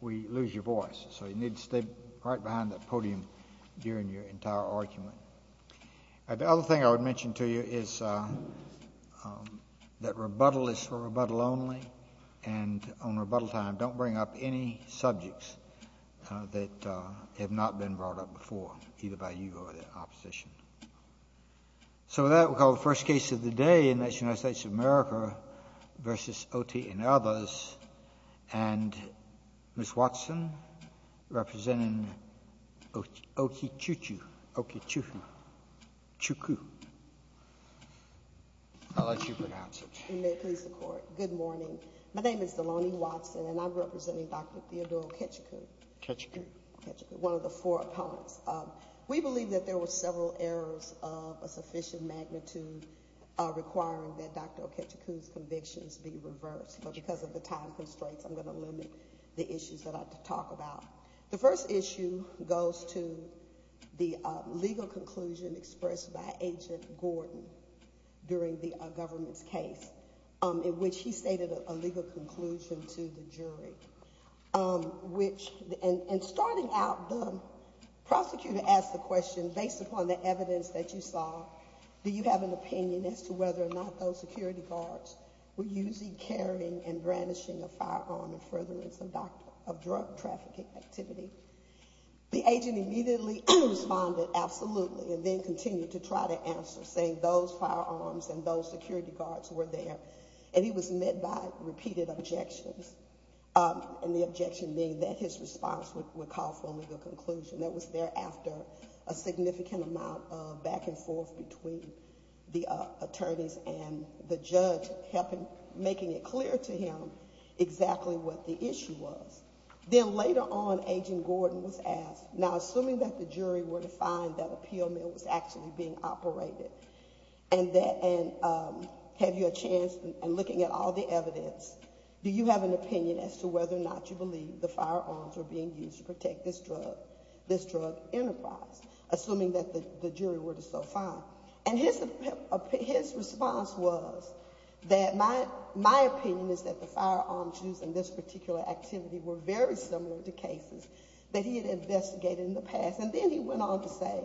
We lose your voice so you need to stay right behind that podium during your entire argument. The other thing I would mention to you is that rebuttal is for rebuttal only and on rebuttal time don't bring up any subjects that have not been brought up before either by you or the opposition. So that we call the first case of the day in the United States of America v. Oti and others. And Ms. Watson representing Okichukwu. I'll let you pronounce it. Good morning my name is Delani Watson and I'm representing Dr. Theodore Kechukwu, one of the four errors of a sufficient magnitude requiring that Dr. Okichukwu's convictions be reversed. But because of the time constraints I'm going to limit the issues that I have to talk about. The first issue goes to the legal conclusion expressed by Agent Gordon during the government's case in which he stated a legal conclusion to the jury. And starting out the prosecutor asked the question, based upon the evidence that you saw, do you have an opinion as to whether or not those security guards were using, carrying, and brandishing a firearm in furtherance of drug trafficking activity. The agent immediately responded absolutely and then continued to try to answer saying those firearms and those security guards were there. And he was met by repeated objections. And the objection being that his response would call for a legal conclusion. That was thereafter a significant amount of back and forth between the attorneys and the judge helping making it clear to him exactly what the issue was. Then later on Agent Gordon was asked, now assuming that the jury were to find that a pill mill was actually being operated and have you a chance in looking at all the evidence, do you have an opinion as to whether or not you believe the firearms were being used to protect this drug enterprise? Assuming that the jury were to so find. And his response was that my opinion is that the firearms used in this particular activity were very similar to cases that he had investigated in the past. And then he went on to say,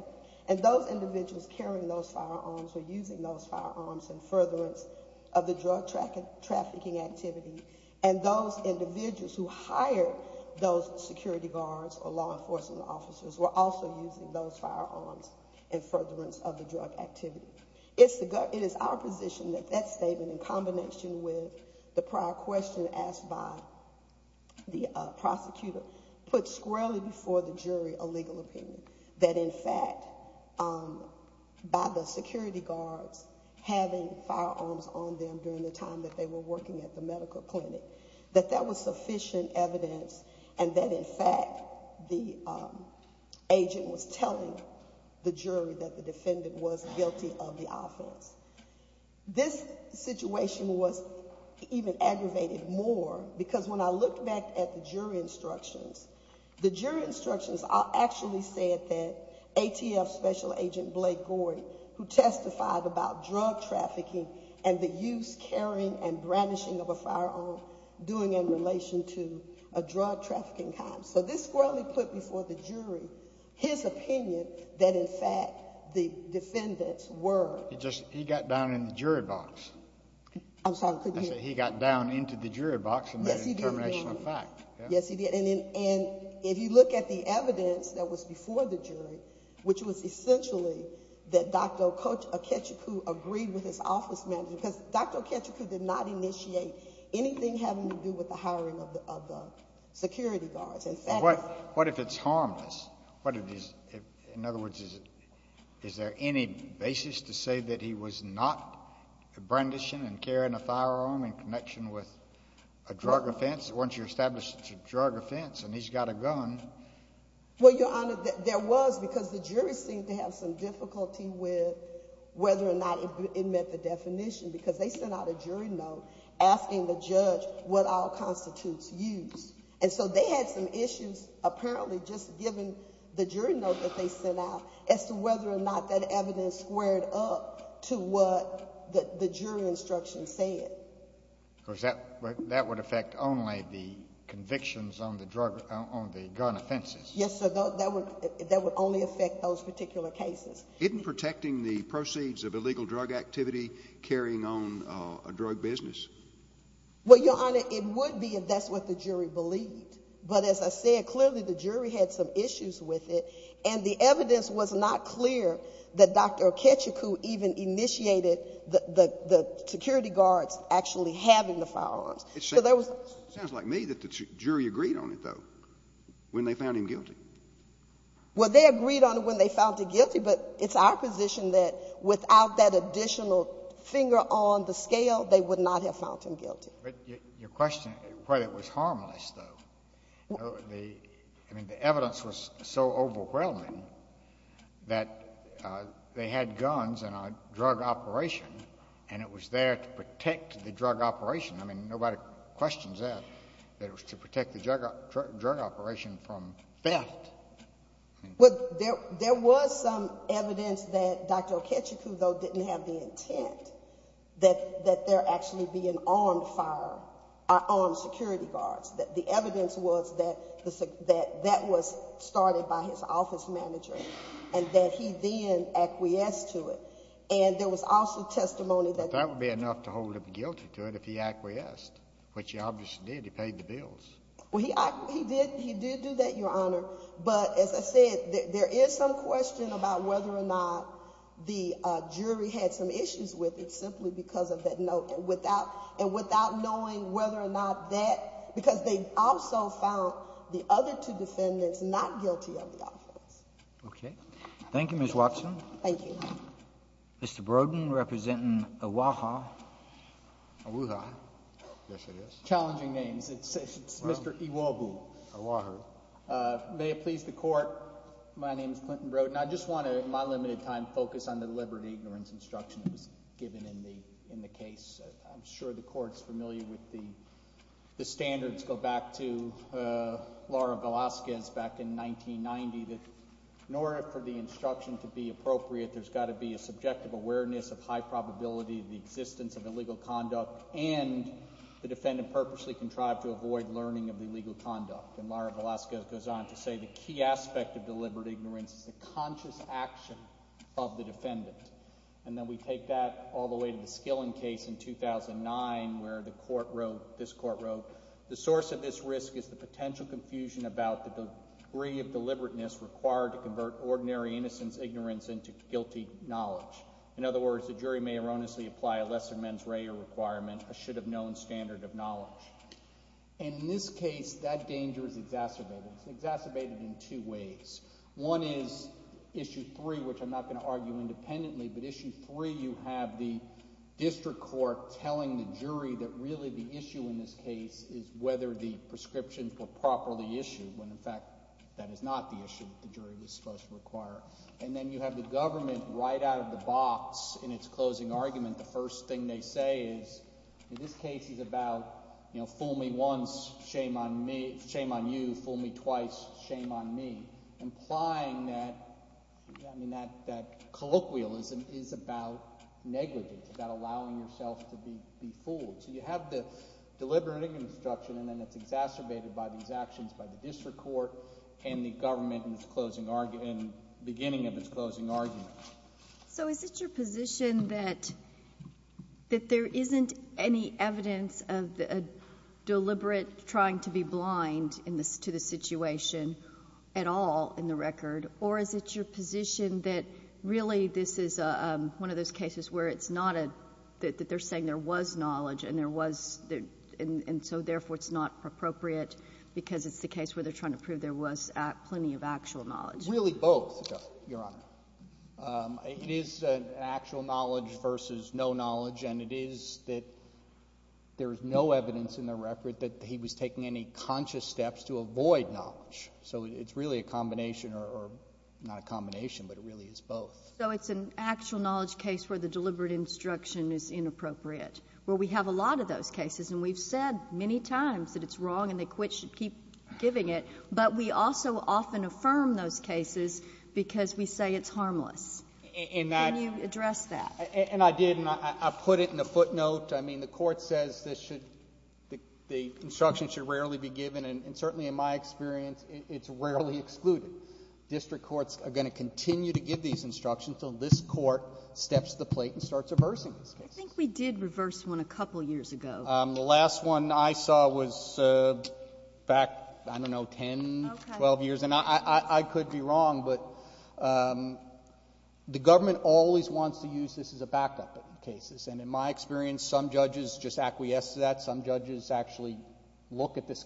and those individuals carrying those firearms or using those firearms in furtherance of the drug trafficking activity and those individuals who hired those security guards or law enforcement officers were also using those firearms in furtherance of the drug activity. It is our position that that statement in combination with the prior question asked by the prosecutor put squarely before the jury a legal opinion. That in fact, by the security guards having firearms on them during the time that they were working at the medical clinic, that that was sufficient evidence and that in fact the agent was telling the jury that the defendant was guilty of the offense. This situation was even aggravated more because when I looked back at the jury instructions, the jury instructions actually said that ATF Special Agent Blake Boyd, who testified about drug trafficking and the use, carrying, and brandishing of a firearm, doing in relation to a drug trafficking crime. So this squarely put before the jury his opinion that in fact the defendants were. He just, he got down in the jury box. I'm sorry. He got down into the jury box and made a determination of fact. Yes, he did. And if you look at the evidence that was before the jury, which was essentially that Dr. Okechukwu agreed with his office manager, because Dr. Okechukwu did not initiate anything having to do with the hiring of the security guards. And what if it's harmless? In other words, is there any basis to say that he was not brandishing and carrying a firearm in connection with a drug offense, once you establish it's a drug offense and he's got a gun? Well, Your Honor, there was because the jury seemed to have some difficulty with whether or not it met the definition because they sent out a jury note asking the judge what all constitutes use. And so they had some issues apparently just given the jury note that they sent out as to whether or not that evidence squared up to what the jury instructions said. Of course, that would affect only the convictions on the gun offenses. Yes, sir. That would only affect those particular cases. Isn't protecting the proceeds of illegal drug activity carrying on a drug business? Well, Your Honor, it would be if that's what the jury believed. But as I said, clearly the jury had some issues with it. And the evidence was not clear that Dr. Okechukwu even initiated the security guards actually having the firearms. It sounds like me that the jury agreed on it, though, when they found him guilty. Well, they agreed on it when they found him guilty, but it's our position that without that additional finger on the scale, they would not have found him guilty. But your question, whether it was harmless, though, I mean, the evidence was so overwhelming that they didn't want to do it. They had guns in a drug operation, and it was there to protect the drug operation. I mean, nobody questions that, that it was to protect the drug operation from theft. Well, there was some evidence that Dr. Okechukwu, though, didn't have the intent that there actually be an armed fire, armed security guards. The evidence was that that was started by his office manager, and that he then acquiesced to it. And there was also testimony that... But that would be enough to hold him guilty to it if he acquiesced, which he obviously did. He paid the bills. Well, he did do that, Your Honor. But as I said, there is some question about whether or not the jury had some issues with it simply because of that note. And without knowing whether or not that, because they also found the other two defendants not guilty of the offense. Okay. Thank you, Ms. Watson. Thank you, Your Honor. Mr. Brodin, representing Oahu. Oahu. Yes, it is. Challenging names. It's Mr. Iwobu. Oahu. May it please the Court, my name is Clinton Brodin. I just want to, in my limited time, focus on the liberty and ignorance instruction that was given in the case. I'm sure the standards go back to Laura Velazquez back in 1990, that in order for the instruction to be appropriate, there's got to be a subjective awareness of high probability of the existence of illegal conduct, and the defendant purposely contrived to avoid learning of the illegal conduct. And Laura Velazquez goes on to say, the key aspect of the liberty and ignorance is the conscious action of the defendant. And then we take that all the way to the Skilling case in 2009, where the court wrote, this court wrote, the source of this risk is the potential confusion about the degree of deliberateness required to convert ordinary innocence, ignorance, into guilty knowledge. In other words, the jury may erroneously apply a lesser mens rea requirement, a should-have-known standard of knowledge. And in this case, that danger is exacerbated. It's exacerbated in two ways. One is Issue 3, you have the district court telling the jury that really the issue in this case is whether the prescriptions were properly issued, when in fact, that is not the issue that the jury was supposed to require. And then you have the government right out of the box in its closing argument, the first thing they say is, this case is about fool me once, shame on me, shame on you, fool me twice, shame on me, implying that colloquialism is about negligence, about allowing yourself to be fooled. So you have the deliberative construction and then it's exacerbated by these actions by the district court and the government in its closing argument, in the beginning of its closing argument. So is it your position that there isn't any evidence of a deliberate trying to be blind in this, to the situation at all in the record? Or is it your position that really this is one of those cases where it's not a, that they're saying there was knowledge and there was, and so therefore it's not appropriate because it's the case where they're trying to prove there was plenty of actual knowledge? Really both, Your Honor. It is an actual knowledge versus no knowledge and it is that there is no evidence in the record that he was taking any conscious steps to avoid knowledge. So it's really a combination, or not a combination, but it really is both. So it's an actual knowledge case where the deliberate instruction is inappropriate. Well, we have a lot of those cases and we've said many times that it's wrong and they should keep giving it, but we also often affirm those cases because we say it's harmless. Can you address that? And I did and I put it in the footnote. I mean, the court says this should, the instruction should rarely be given and certainly in my experience, it's rarely excluded. District courts are going to continue to give these instructions until this court steps to the plate and starts reversing these cases. I think we did reverse one a couple years ago. The last one I saw was back, I don't know, 10, 12 years and I could be wrong, but the government always wants to use this as a backup in cases and in my experience, some judges just acquiesce to that. Some judges actually look at this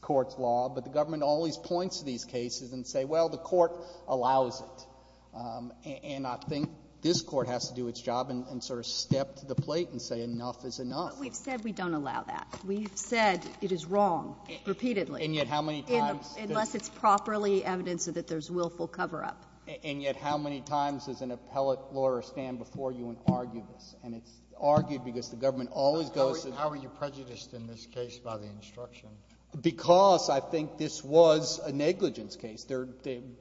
court's law, but the government always points to these cases and say, well, the court allows it. And I think this court has to do its job and sort of step to the plate and say, enough is enough. But we've said we don't allow that. We've said it is wrong repeatedly. And yet how many times? Unless it's properly evidence that there's willful cover up. And yet how many times does an appellate lawyer stand before you and argue this? And it's argued because the government always goes to the court. How are you prejudiced in this case by the instruction? Because I think this was a negligence case. They're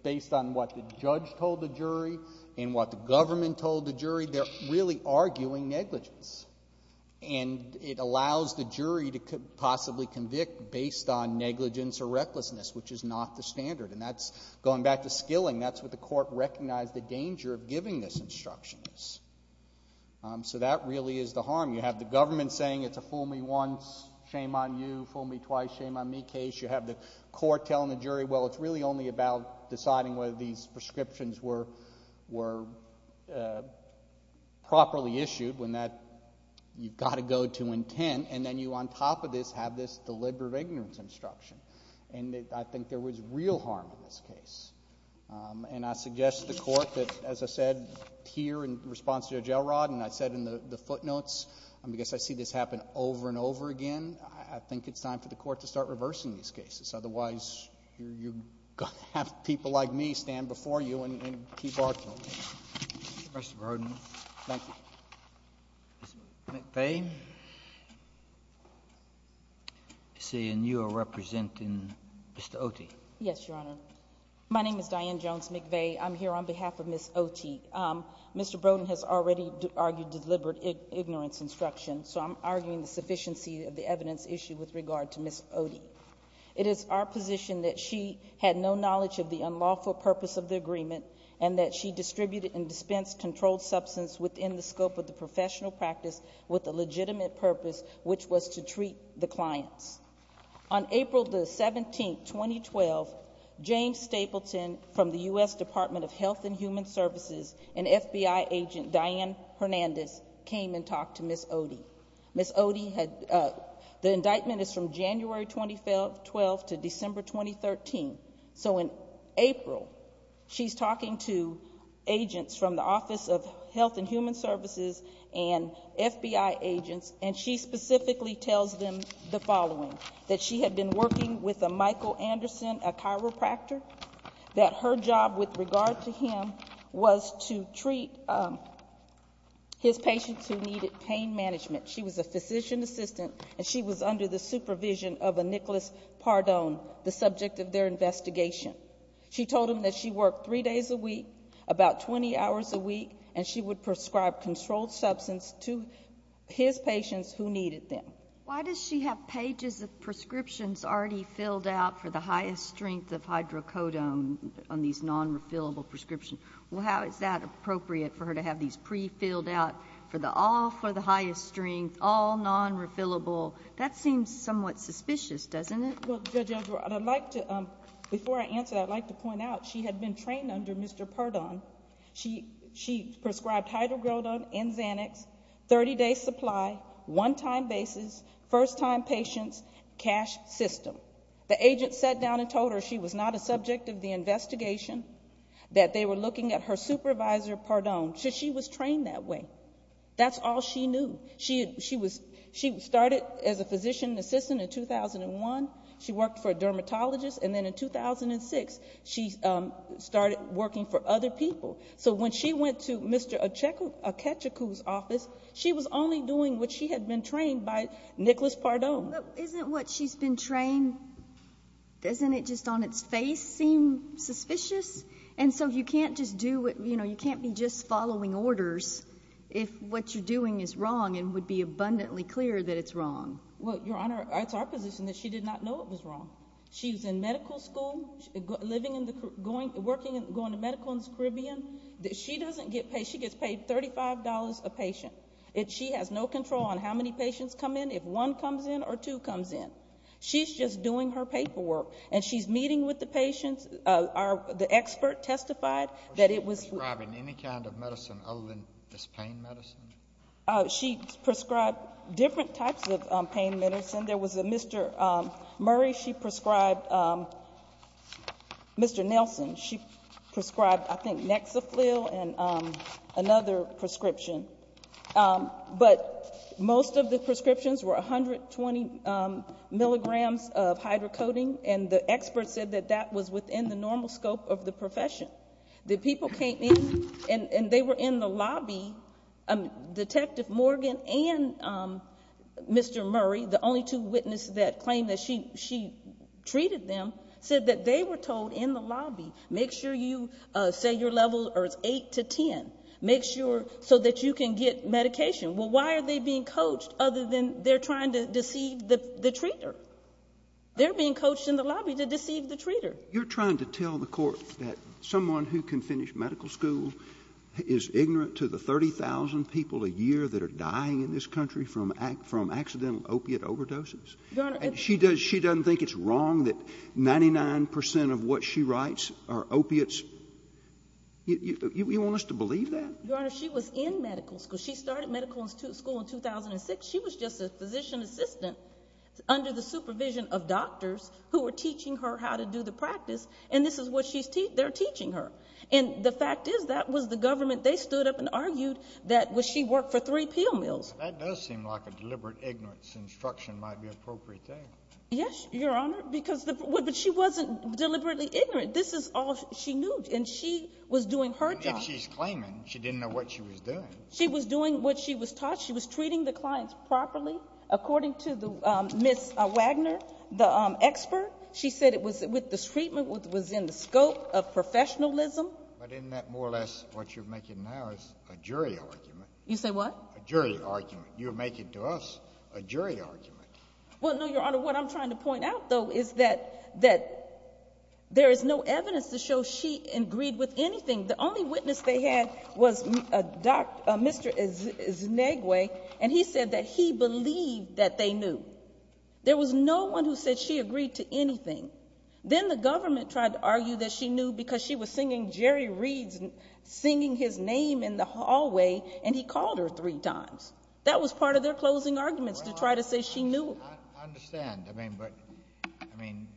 based on what the judge told the jury and what the government told the jury. They're really arguing negligence. And it allows the jury to possibly convict based on negligence or recklessness, which is not the standard. And that's, going back to skilling, that's what the court recognized the danger of giving this instruction is. So that really is the harm. You have the government saying it's a fool me once, shame on you, fool me twice, shame on me case. You have the court telling the jury, well, it's really only about deciding whether these prescriptions were properly issued when that, you've got to go to intent. And then you, on top of this, have this deliberate ignorance instruction. And I think there was real harm in this case. And I suggest to the court that, as I said here in response to Jailrod, and I said in the footnotes, because I see this happen over and over again, I think it's time for the court to start reversing these cases. Otherwise, you're going to have people like me stand before you and keep arguing. Mr. Broden. Thank you. Ms. McVeigh. I see you are representing Mr. Oti. Yes, Your Honor. My name is Diane Jones McVeigh. I'm here on behalf of Ms. Oti. Mr. Broden has already argued deliberate ignorance instruction, so I'm arguing the sufficiency of the evidence issue with regard to Ms. Oti. It is our position that she had no knowledge of the unlawful purpose of the agreement and that she distributed and dispensed controlled substance within the scope of the professional practice with a legitimate purpose, which was to treat the clients. On April 17, 2012, James Stapleton from the U.S. Department of Health and Human Services and FBI agent Diane Hernandez came and talked to Ms. Oti. The indictment is from January 2012 to December 2013. So in April, she's talking to agents from the Office of Health and Human Services and FBI agents, and she specifically tells them the following, that she had been working with a Michael Anderson, a chiropractor, that her job with regard to him was to treat his patients who needed pain management. She was a physician assistant, and she was under the supervision of a Nicholas Pardone, the subject of their investigation. She told him that she worked three days a week, about 20 hours a week, and she would prescribe controlled substance to his patients who needed them. Why does she have pages of prescriptions already filled out for the highest strength of hydrocodone on these non-refillable prescriptions? Well, how is that appropriate for her to have these pre-filled out for the all for the highest strength, all non-refillable? That seems somewhat suspicious, doesn't it? Well, Judge Oduor, I'd like to, before I answer that, I'd like to point out she had been trained under Mr. Pardone. She prescribed hydrocodone and Xanax, 30-day supply, one-time basis, first-time patients, cash system. The agent sat down and told her she was not a subject of the investigation, that they were looking at her supervisor, Pardone. So she was trained that way. That's all she knew. She started as a physician assistant in 2001. She worked for a dermatologist, and then in 2006, she started working for other people. So when she went to Mr. Akechukwu's office, she was only doing what she had been trained by Nicholas Pardone. Isn't what she's been trained, doesn't it just on its face seem suspicious? And so you can't just do what, you know, you can't be just following orders if what you're doing is wrong and would be abundantly clear that it's wrong. Well, Your Honor, it's our position that she did not know it was wrong. She was in medical school, living in the, going, working, going to medical in the Caribbean. She doesn't get paid. She gets paid $35 a patient. She has no control on how many patients come in. If one comes in or two comes in. She's just doing her paperwork, and she's meeting with the patients. The expert testified that it was Was she prescribing any kind of medicine other than this pain medicine? She prescribed different types of pain medicine. There was a Mr. Murray. She prescribed Mr. Nelson. She prescribed, I think, Nexafil and another prescription. But most of the prescriptions were 120 milligrams of hydrocoating, and the expert said that that was within the normal scope of the profession. The people came in, and they were in the lobby. Detective Morgan and Mr. Murray, the only two witnesses that claimed that she treated them, said that they were told in the lobby, make sure you set your level, or it's 8 to 10, make sure, so that you can get medication. Well, why are they being coached other than they're trying to deceive the treater? They're being coached in the lobby to deceive the treater. You're trying to tell the court that someone who can finish medical school is ignorant to the 30,000 people a year that are dying in this country from accidental opiate overdoses? She doesn't think it's wrong that 99 percent of what she writes are opiates? You want us to believe that? Your Honor, she was in medical school. She started medical school in 2006. She was just a physician assistant under the supervision of doctors who were teaching her how to do the practice, and this is what they're teaching her. And the fact is, that was the government they stood up and argued that she worked for three peel mills. That does seem like a deliberate ignorance instruction might be appropriate there. Yes, Your Honor, but she wasn't deliberately ignorant. This is all she knew, and she was doing her job. But if she's claiming she didn't know what she was doing. She was doing what she was taught. She was treating the clients properly. According to Ms. Wagner, the expert, she said the treatment was in the scope of professionalism. But isn't that more or less what you're making now is a jury argument? You say what? A jury argument. You're making to us a jury argument. Well, no, Your Honor, what I'm trying to point out, though, is that there is no evidence to show she agreed with anything. The only witness they had was Mr. Znegwe, and he said that he believed that they knew. There was no one who said she agreed to anything. Then the government tried to argue that she knew because she was singing Jerry Reed's, singing his name in the hallway, and he called her three times. That was part of their closing arguments to try to say she knew. I understand. I mean, but, I mean,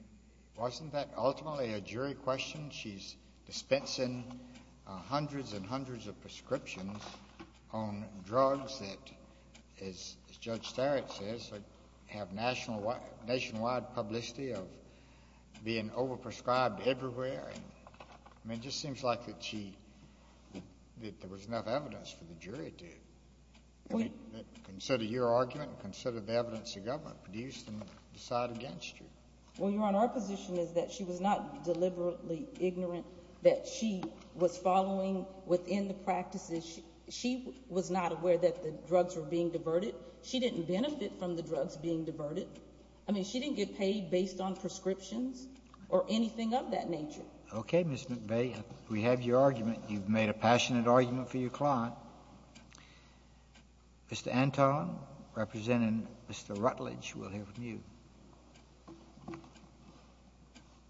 wasn't that ultimately a jury question? She's dispensing hundreds and hundreds of prescriptions on drugs that, as Judge Starrett says, have nationwide publicity of being overprescribed everywhere. I mean, it just seems like that she, that there was enough evidence for the jury to consider your argument and consider the evidence the government produced and decide against you. Well, Your Honor, our position is that she was not deliberately ignorant, that she was following within the practices. She was not aware that the drugs were being diverted. She didn't benefit from the drugs being diverted. I mean, she didn't get paid based on prescriptions or anything of that nature. Okay, Ms. McVeigh, we have your argument. You've made a passionate argument for your case. Mr. Rutledge, we'll hear from you.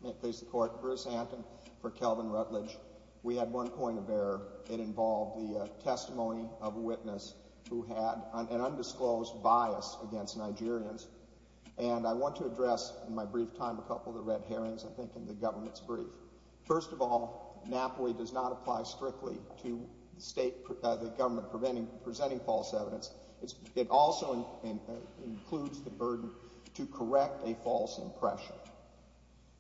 May it please the Court. Bruce Anton for Kelvin Rutledge. We had one point of error. It involved the testimony of a witness who had an undisclosed bias against Nigerians, and I want to address in my brief time a couple of the red herrings, I think, in the government's brief. First of all, NAPOE does not apply strictly to the state, the government presenting false evidence. It also includes the burden to correct a false impression.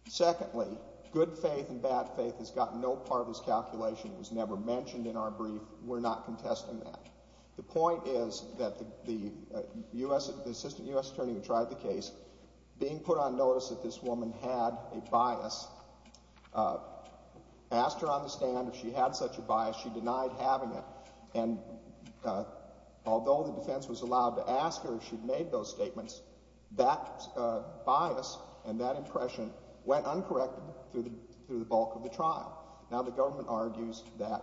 Secondly, good faith and bad faith has gotten no part of this calculation. It was never mentioned in our brief. We're not contesting that. The point is that the assistant U.S. attorney who tried the case, being put on notice that this woman had a bias, asked her on the stand if she had such a bias. She was not on the defense, was allowed to ask her if she'd made those statements. That bias and that impression went uncorrected through the bulk of the trial. Now the government argues that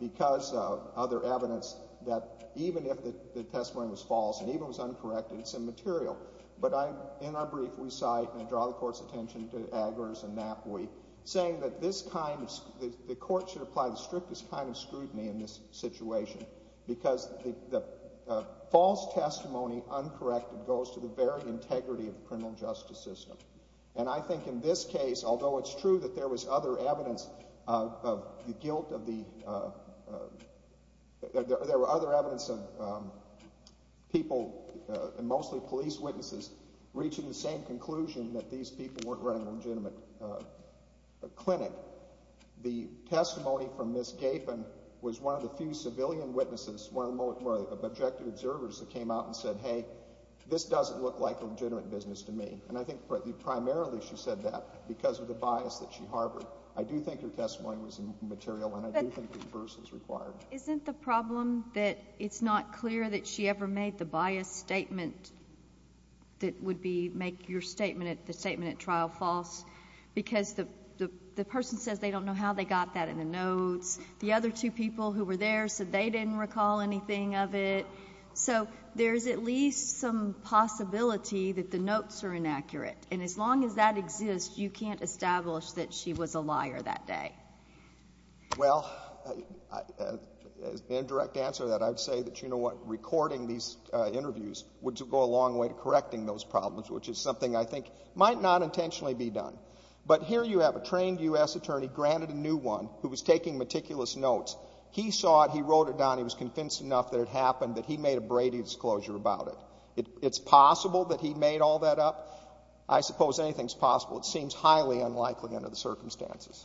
because of other evidence, that even if the testimony was false and even if it was uncorrected, it's immaterial. But in our brief, we cite, and I draw the Court's attention to Agler's and NAPOE, saying that the Court should apply the strictest kind of scrutiny in this situation, because the false testimony uncorrected goes to the very integrity of the criminal justice system. And I think in this case, although it's true that there was other evidence of the guilt of the, there were other evidence of people, mostly police witnesses, reaching the same conclusion that these people weren't running a legitimate clinic, the testimony from Ms. Gaffin was one of the few civilian witnesses, one of the more objective observers, that came out and said, hey, this doesn't look like a legitimate business to me. And I think primarily she said that because of the bias that she harbored. I do think her testimony was immaterial, and I do think a reversal is required. But isn't the problem that it's not clear that she ever made the bias statement that would be make your statement, the statement at trial, false? Because the person says they don't know how they got that in the notes. The other two people who were there said they didn't recall anything of it. So there's at least some possibility that the notes are inaccurate. And as long as that exists, you can't establish that she was a liar that day. Well, as the indirect answer to that, I'd say that, you know what, recording these interviews would go a long way to correcting those problems, which is something I think might not intentionally be done. But here you have a trained U.S. attorney granted a new one who was taking meticulous notes. He saw it, he wrote it down, he was convinced enough that it happened that he made a Brady disclosure about it. It's possible that he made all that up? I suppose anything's possible. It seems highly unlikely under the circumstances.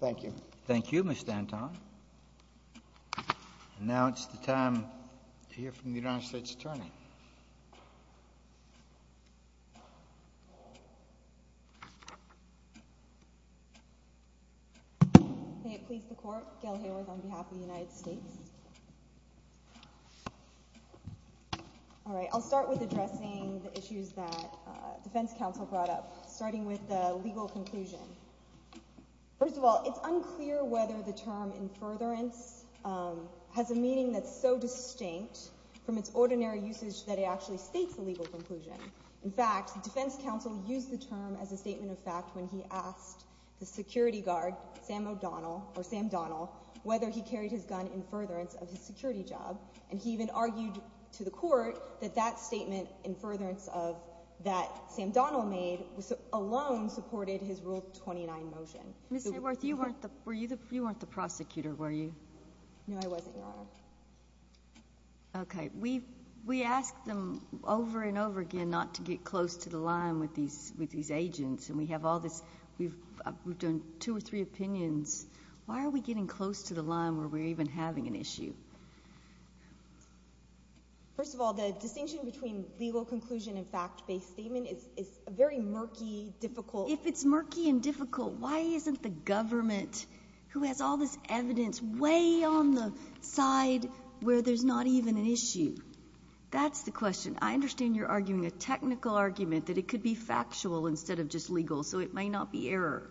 Thank you. Thank you, Ms. Danton. And now it's the time to hear from the United States Attorney. May it please the Court, Gail Hayworth on behalf of the United States. All right, I'll start with addressing the issues that Defense Counsel brought up, starting with the legal conclusion. First of all, it's unclear whether the term, in furtherance, has a meaning that's so distinct from its ordinary usage that it actually states a legal conclusion. In fact, the Defense Counsel used the term as a statement of fact when he asked the security guard, Sam O'Donnell, or Sam Donnell, whether he carried his gun in furtherance of his security job. And he even argued to the Court that that statement, in furtherance of that Sam Donnell made, alone supported his Rule 29 motion. Ms. Hayworth, you weren't the prosecutor, were you? No, I wasn't, Your Honor. Okay. We ask them over and over again not to get close to the line with these agents, and we have all this, we've done two or three opinions. Why are we getting close to the line where we're even having an issue? First of all, the distinction between legal conclusion and fact-based statement is a very murky, difficult— If it's murky and difficult, why isn't the government, who has all this evidence, way on the side where there's not even an issue? That's the question. I understand you're arguing a technical argument that it could be factual instead of just legal, so it might not be error.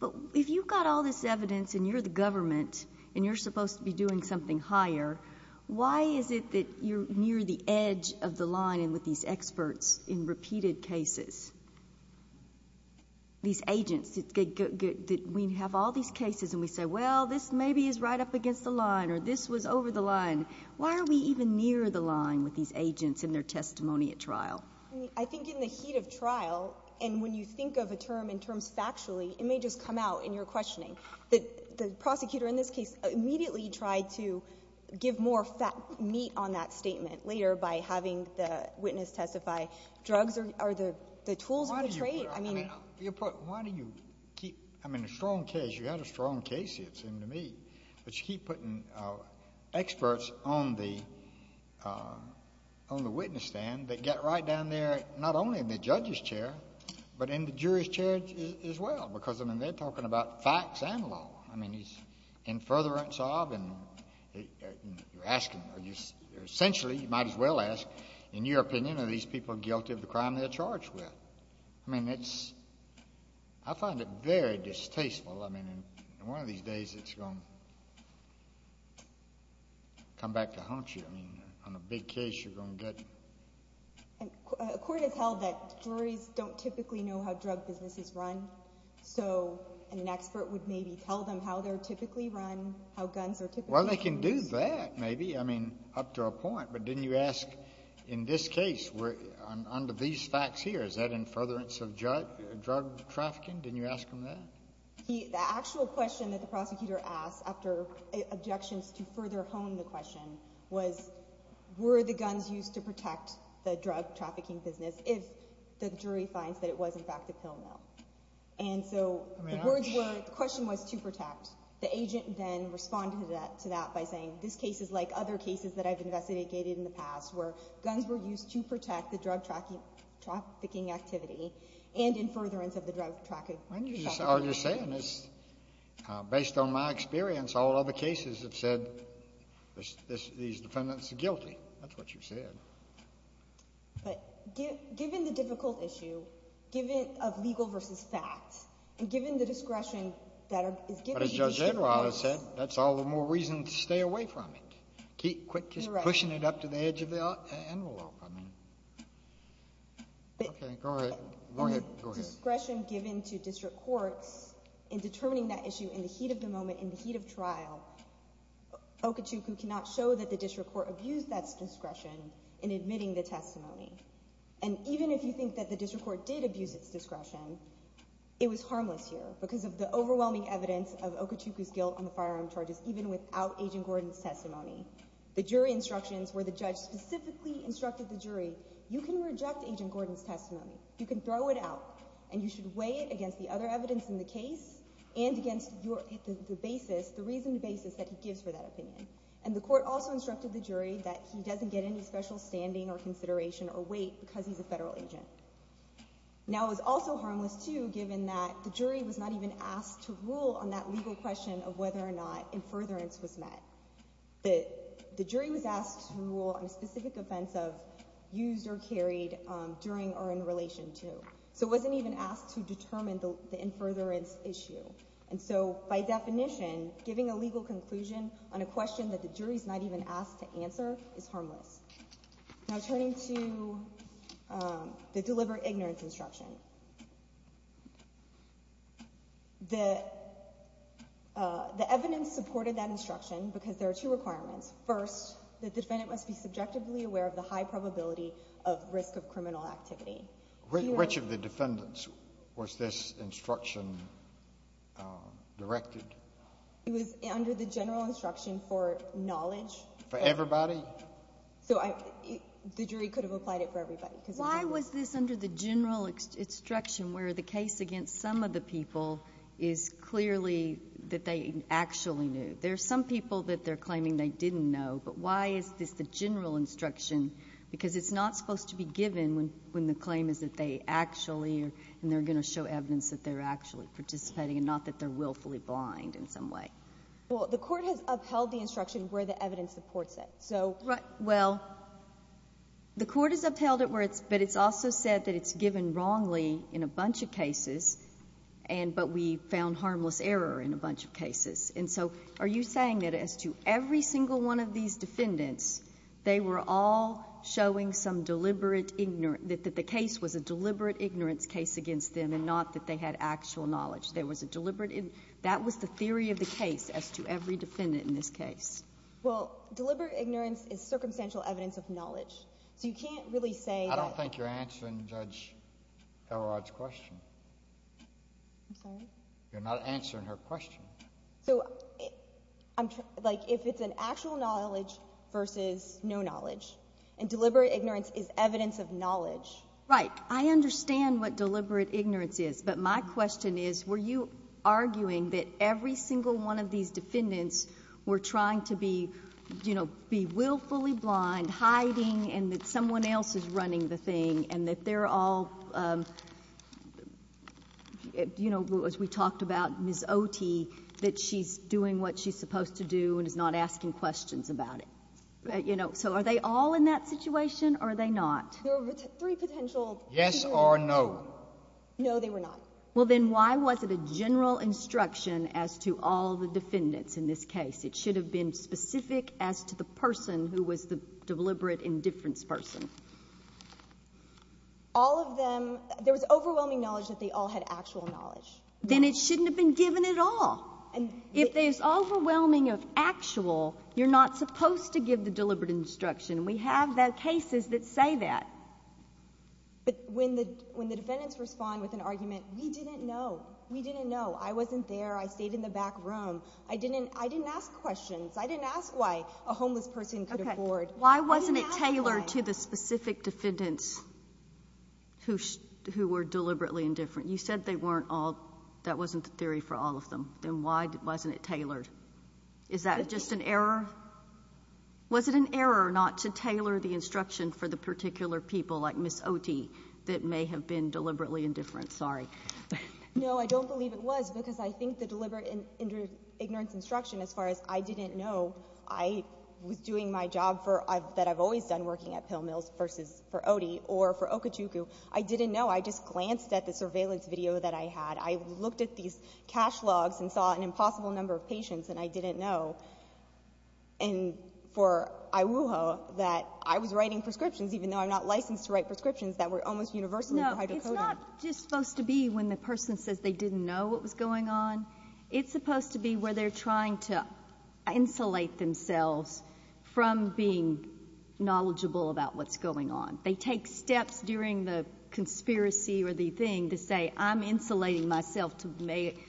But if you've got all this evidence and you're the government and you're supposed to be doing something higher, why is it that you're near the edge of the line with these experts in repeated cases? These agents, we have all these cases and we say, well, this maybe is right up against the line or this was over the line. Why are we even near the line with these agents and their testimony at trial? I think in the heat of trial and when you think of a term in terms factually, it may just come out in your questioning. The prosecutor in this case immediately tried to give more meat on that statement later by having the witness testify. Drugs are the tools of the trade. I mean, why do you keep—I mean, a strong case, you had a strong case, it seemed to me, but you keep putting experts on the witness stand that get right down there, not only in the judge's chair, but in the jury's chair as well because, I mean, they're talking about facts and law. I mean, he's in furtherance of and you're asking—essentially, you might as well ask, in your opinion, are these people guilty of the crime they're charged with? I mean, it's—I find it very distasteful. I mean, in one of these days, it's going to come back to haunt you. I mean, on a big case, you're going to get— And a court has held that juries don't typically know how drug businesses run, so an expert would maybe tell them how they're typically run, how guns are typically— Well, they can do that, maybe, I mean, up to a point, but didn't you ask, in this case, under these facts here, is that in furtherance of drug trafficking? Didn't you ask them that? The actual question that the prosecutor asked after objections to further hone the question was, were the guns used to protect the drug trafficking business if the jury finds that it was, in fact, a pill mill? And so the words were—the question was to protect. The agent then responded to that by saying, this case is like other cases that I've investigated in the past where guns were used to protect the drug trafficking activity and in furtherance of the drug trafficking— All you're saying is, based on my experience, all other cases have said these defendants are guilty. That's what you said. But given the difficult issue, given—of legal versus facts, and given the discretion that is given— But as Judge Edward has said, that's all the more reason to stay away from it. Correct. Just pushing it up to the edge of the envelope, I mean. But— Okay, go ahead. Go ahead. Go ahead. Given the discretion given to district courts in determining that issue in the heat of the moment, in the heat of trial, Okachukwu cannot show that the district court abused that discretion in admitting the testimony. And even if you think that the district court did abuse its discretion, it was harmless here because of the overwhelming evidence of Okachukwu's guilt on the firearm charges, even without Agent Gordon's testimony. The jury instructions where the judge specifically instructed the jury, you can reject Agent Gordon's testimony. You can throw it out, and you should weigh it against the other evidence in the case and against your—the basis, the reasoning basis that he gives for that opinion. And the court also instructed the jury that he doesn't get any special standing or consideration or weight because he's a federal agent. Now, it was also harmless, too, given that the jury was not even asked to rule on that legal question of whether or not in furtherance was met. The jury was asked to rule on a specific offense of used or carried during or in relation to. So it wasn't even asked to determine the in furtherance issue. And so, by definition, giving a legal conclusion on a question that the jury's not even asked to answer is harmless. Now, turning to the deliberate ignorance instruction. The evidence supported that instruction because there are two requirements. First, the defendant must be subjectively aware of the high probability of risk of criminal activity. Which of the defendants was this instruction directed? It was under the general instruction for knowledge. For everybody? So the jury could have applied it for everybody. Why was this under the general instruction where the case against some of the people is clearly that they actually knew? There are some people that they're claiming they didn't know. But why is this the general instruction? Because it's not supposed to be given when the claim is that they actually, and they're going to show evidence that they're actually participating and not that they're willfully blind in some way. Well, the court has upheld the instruction where the evidence supports it. Well, the court has upheld it, but it's also said that it's given wrongly in a bunch of cases, but we found harmless error in a bunch of cases. And so are you saying that as to every single one of these defendants, they were all showing some deliberate ignorance, that the case was a deliberate ignorance case against them and not that they had actual knowledge? That was the theory of the case as to every defendant in this case. Well, deliberate ignorance is circumstantial evidence of knowledge. So you can't really say that... I don't think you're answering Judge Elrod's question. I'm sorry? You're not answering her question. So if it's an actual knowledge versus no knowledge, and deliberate ignorance is evidence of knowledge... Right. I understand what deliberate ignorance is, but my question is were you arguing that every single one of these defendants were trying to be, you know, be willfully blind, hiding, and that someone else is running the thing, and that they're all, you know, as we talked about, Ms. Otey, that she's doing what she's supposed to do and is not asking questions about it? You know, so are they all in that situation or are they not? There were three potential... Yes or no? No, they were not. Well, then why was it a general instruction as to all the defendants in this case? It should have been specific as to the person who was the deliberate indifference person. All of them, there was overwhelming knowledge that they all had actual knowledge. Then it shouldn't have been given at all. If there's overwhelming of actual, you're not supposed to give the deliberate instruction. We have cases that say that. But when the defendants respond with an argument, we didn't know. We didn't know. I wasn't there. I stayed in the back room. I didn't ask questions. I didn't ask why a homeless person could afford. Why wasn't it tailored to the specific defendants who were deliberately indifferent? You said they weren't all. That wasn't the theory for all of them. Then why wasn't it tailored? Is that just an error? Was it an error not to tailor the instruction for the particular people like Ms. Otey that may have been deliberately indifferent? Sorry. No, I don't believe it was because I think the deliberate ignorance instruction, as far as I didn't know, I was doing my job that I've always done working at pill mills versus for Otey or for Okachukwu. I didn't know. I just glanced at the surveillance video that I had. I looked at these cash logs and saw an impossible number of patients, and I didn't know. And for Iwuho, that I was writing prescriptions, even though I'm not licensed to write prescriptions, that were almost universally for hydrocodone. No, it's not just supposed to be when the person says they didn't know what was going on. It's supposed to be where they're trying to insulate themselves from being knowledgeable about what's going on. They take steps during the conspiracy or the thing to say, I'm insulating myself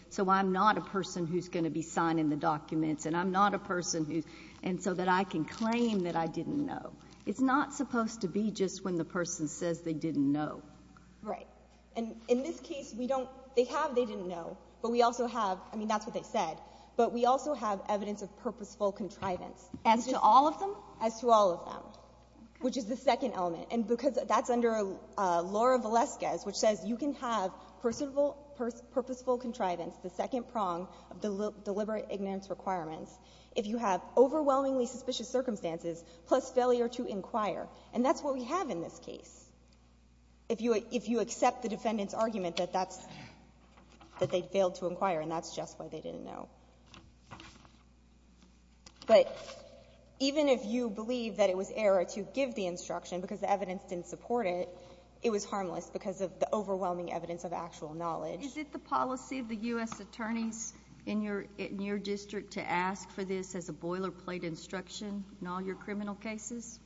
so I'm not a person who's going to be signing the documents and I'm not a person who's – and so that I can claim that I didn't know. It's not supposed to be just when the person says they didn't know. Right. And in this case, we don't – they have they didn't know, but we also have – I mean, that's what they said, but we also have evidence of purposeful contrivance. As to all of them? As to all of them, which is the second element. And because that's under Laura Valesquez, which says you can have purposeful contrivance, the second prong of deliberate ignorance requirements, if you have overwhelmingly suspicious circumstances plus failure to inquire. And that's what we have in this case. If you accept the defendant's argument that that's – that they failed to inquire and that's just why they didn't know. But even if you believe that it was error to give the instruction because the evidence didn't support it, it was harmless because of the overwhelming evidence of actual knowledge. Is it the policy of the U.S. attorneys in your district to ask for this as a boilerplate instruction in all your criminal cases?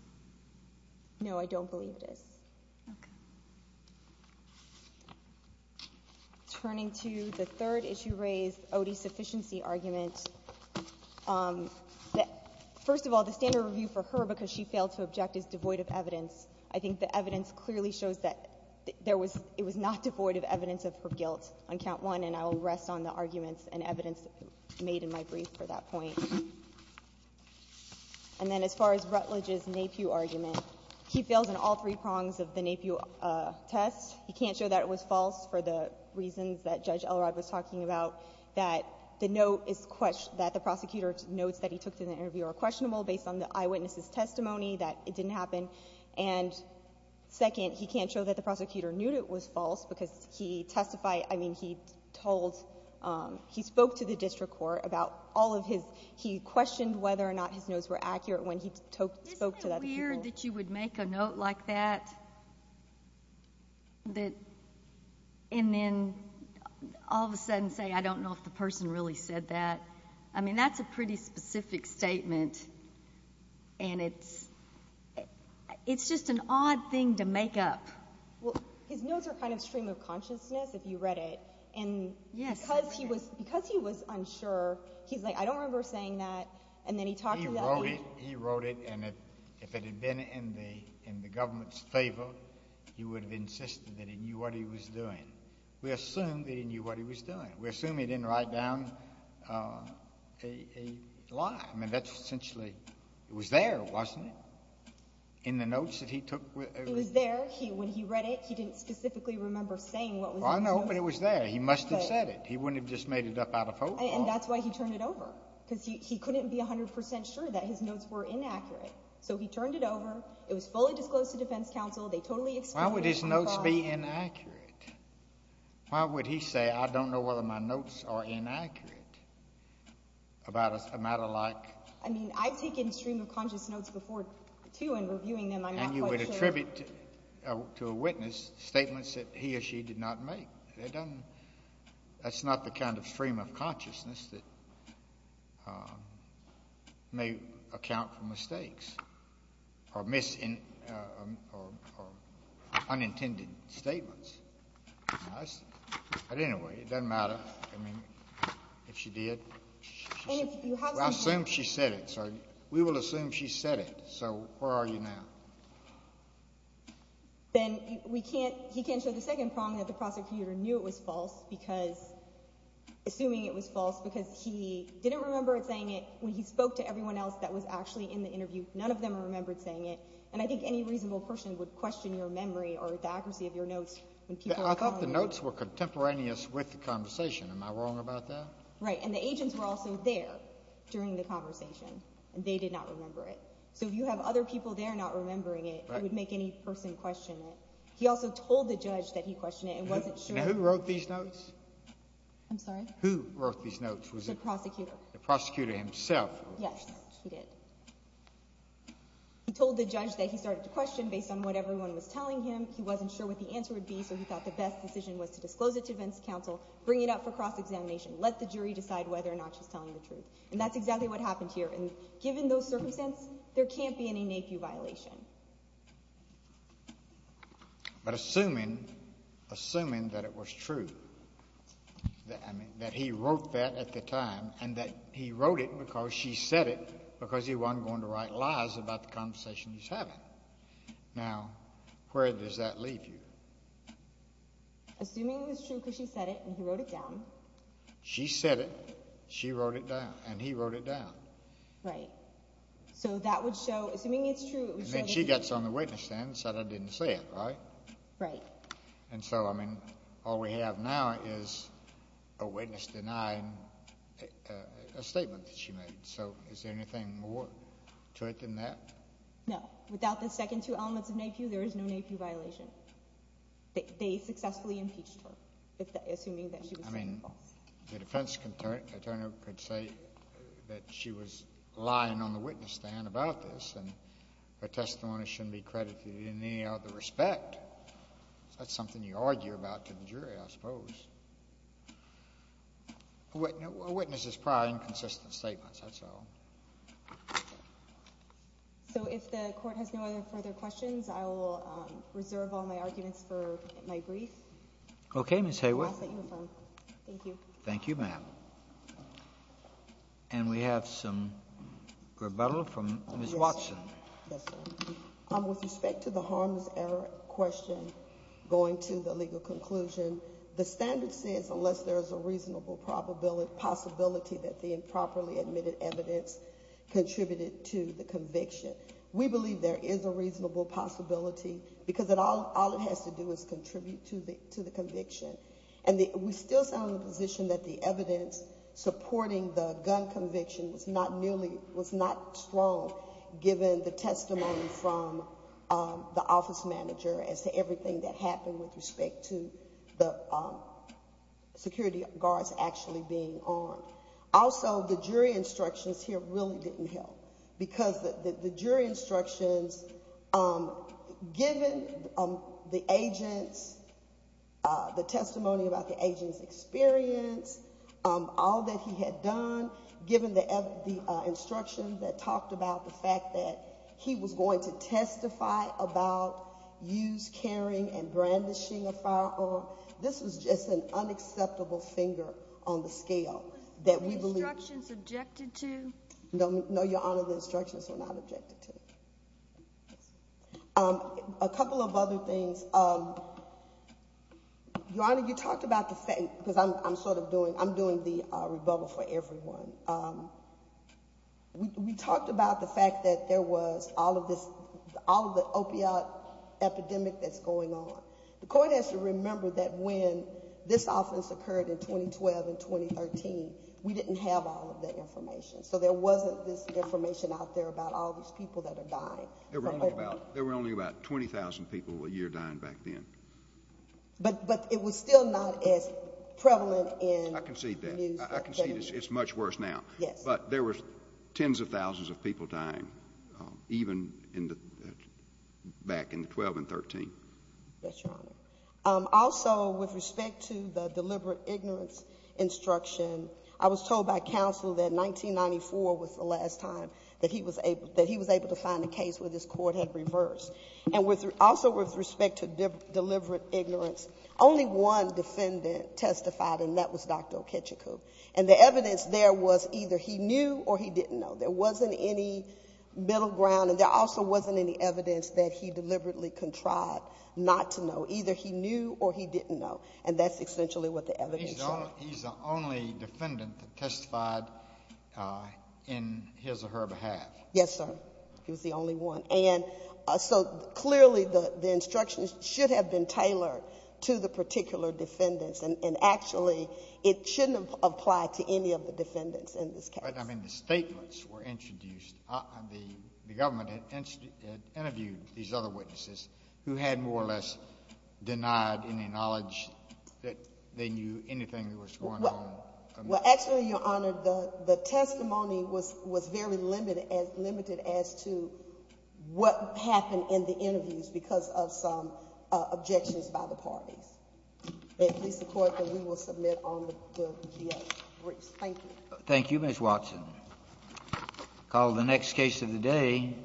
No, I don't believe it is. Okay. Turning to the third issue raised, Odie's sufficiency argument. First of all, the standard review for her because she failed to object is devoid of evidence. I think the evidence clearly shows that there was – it was not devoid of evidence of her guilt on count one, and I will rest on the arguments and evidence made in my brief for that point. And then as far as Rutledge's NAPU argument, he fails in all three prongs of the NAPU test. He can't show that it was false for the reasons that Judge Elrod was talking about, that the note is – that the prosecutor's notes that he took in the interview are questionable based on the eyewitness's testimony, that it didn't happen. And second, he can't show that the prosecutor knew it was false because he testified – I mean he told – he spoke to the district court about all of his – he questioned whether or not his notes were accurate when he spoke to other people. Isn't it weird that you would make a note like that and then all of a sudden say, I don't know if the person really said that? I mean that's a pretty specific statement, and it's – it's just an odd thing to make up. Well, his notes are kind of stream of consciousness if you read it. And because he was unsure, he's like, I don't remember saying that, and then he talked about it. He wrote it, and if it had been in the government's favor, he would have insisted that he knew what he was doing. We assume that he knew what he was doing. We assume he didn't write down a lie. I mean that's essentially – it was there, wasn't it, in the notes that he took? It was there. When he read it, he didn't specifically remember saying what was in the notes. Well, I know, but it was there. He must have said it. He wouldn't have just made it up out of hope. And that's why he turned it over because he couldn't be 100 percent sure that his notes were inaccurate. So he turned it over. It was fully disclosed to defense counsel. Why would his notes be inaccurate? Why would he say, I don't know whether my notes are inaccurate about a matter like – I mean I've taken stream of conscious notes before, too, and reviewing them, I'm not quite sure. And you would attribute to a witness statements that he or she did not make. That's not the kind of stream of consciousness that may account for mistakes or unintended statements. But anyway, it doesn't matter. I mean if she did, we'll assume she said it. So we will assume she said it. So where are you now? Then we can't – he can't show the second prong that the prosecutor knew it was false because – assuming it was false because he didn't remember saying it when he spoke to everyone else that was actually in the interview. None of them remembered saying it. And I think any reasonable person would question your memory or the accuracy of your notes. I thought the notes were contemporaneous with the conversation. Am I wrong about that? Right. And the agents were also there during the conversation, and they did not remember it. So if you have other people there not remembering it, it would make any person question it. He also told the judge that he questioned it and wasn't sure – And who wrote these notes? I'm sorry? Who wrote these notes? The prosecutor. The prosecutor himself. Yes, he did. He told the judge that he started to question based on what everyone was telling him. He wasn't sure what the answer would be, so he thought the best decision was to disclose it to defense counsel, bring it up for cross-examination, let the jury decide whether or not she's telling the truth. And that's exactly what happened here. And given those circumstances, there can't be any nephew violation. But assuming that it was true, that he wrote that at the time, and that he wrote it because she said it because he wasn't going to write lies about the conversation he was having, now where does that leave you? Assuming it was true because she said it and he wrote it down. She said it. She wrote it down. And he wrote it down. Right. So that would show, assuming it's true, it would show that she – And then she gets on the witness stand and said I didn't say it, right? Right. And so, I mean, all we have now is a witness denying a statement that she made. So is there anything more to it than that? No. Without the second two elements of nephew, there is no nephew violation. They successfully impeached her, assuming that she was telling the truth. I mean, the defense attorney could say that she was lying on the witness stand about this and her testimony shouldn't be credited in any other respect. That's something you argue about to the jury, I suppose. A witness is probably inconsistent statements, that's all. So if the court has no further questions, I will reserve all my arguments for my brief. Okay, Ms. Hayworth. Thank you. Thank you, ma'am. And we have some rebuttal from Ms. Watson. With respect to the harms error question going to the legal conclusion, the standard says unless there is a reasonable possibility that the improperly admitted evidence contributed to the conviction. We believe there is a reasonable possibility because all it has to do is contribute to the conviction. And we still stand on the position that the evidence supporting the gun conviction was not strong, given the testimony from the office manager as to everything that happened with respect to the security guards actually being on. Also, the jury instructions here really didn't help because the jury instructions, given the agents, the testimony about the agents' experience, all that he had done, given the instructions that talked about the fact that he was going to testify about use, carrying, and brandishing a firearm, this was just an unacceptable finger on the scale that we believe. Were the instructions objected to? No, Your Honor, the instructions were not objected to. A couple of other things. Your Honor, you talked about the fact, because I'm sort of doing, I'm doing the rebuttal for everyone. We talked about the fact that there was all of this, all of the opiate epidemic that's going on. The court has to remember that when this offense occurred in 2012 and 2013, we didn't have all of that information. So there wasn't this information out there about all these people that are dying. There were only about 20,000 people a year dying back then. But it was still not as prevalent in the news. I concede that. I concede it's much worse now. Yes. But there were tens of thousands of people dying, even back in 2012 and 2013. Yes, Your Honor. Also, with respect to the deliberate ignorance instruction, I was told by counsel that 1994 was the last time that he was able to find a case where this court had reversed. And also with respect to deliberate ignorance, only one defendant testified, and that was Dr. Okechukwu. And the evidence there was either he knew or he didn't know. There wasn't any middle ground, and there also wasn't any evidence that he deliberately contrived not to know. Either he knew or he didn't know. And that's essentially what the evidence says. So he's the only defendant that testified in his or her behalf. Yes, sir. He was the only one. And so clearly the instructions should have been tailored to the particular defendants, and actually it shouldn't apply to any of the defendants in this case. But, I mean, the statements were introduced. The government had interviewed these other witnesses who had more or less denied any knowledge that they knew anything that was going on. Well, actually, Your Honor, the testimony was very limited as to what happened in the interviews because of some objections by the parties. May it please the Court that we will submit on the briefs. Thank you. Thank you, Ms. Watson. Call the next case of the day.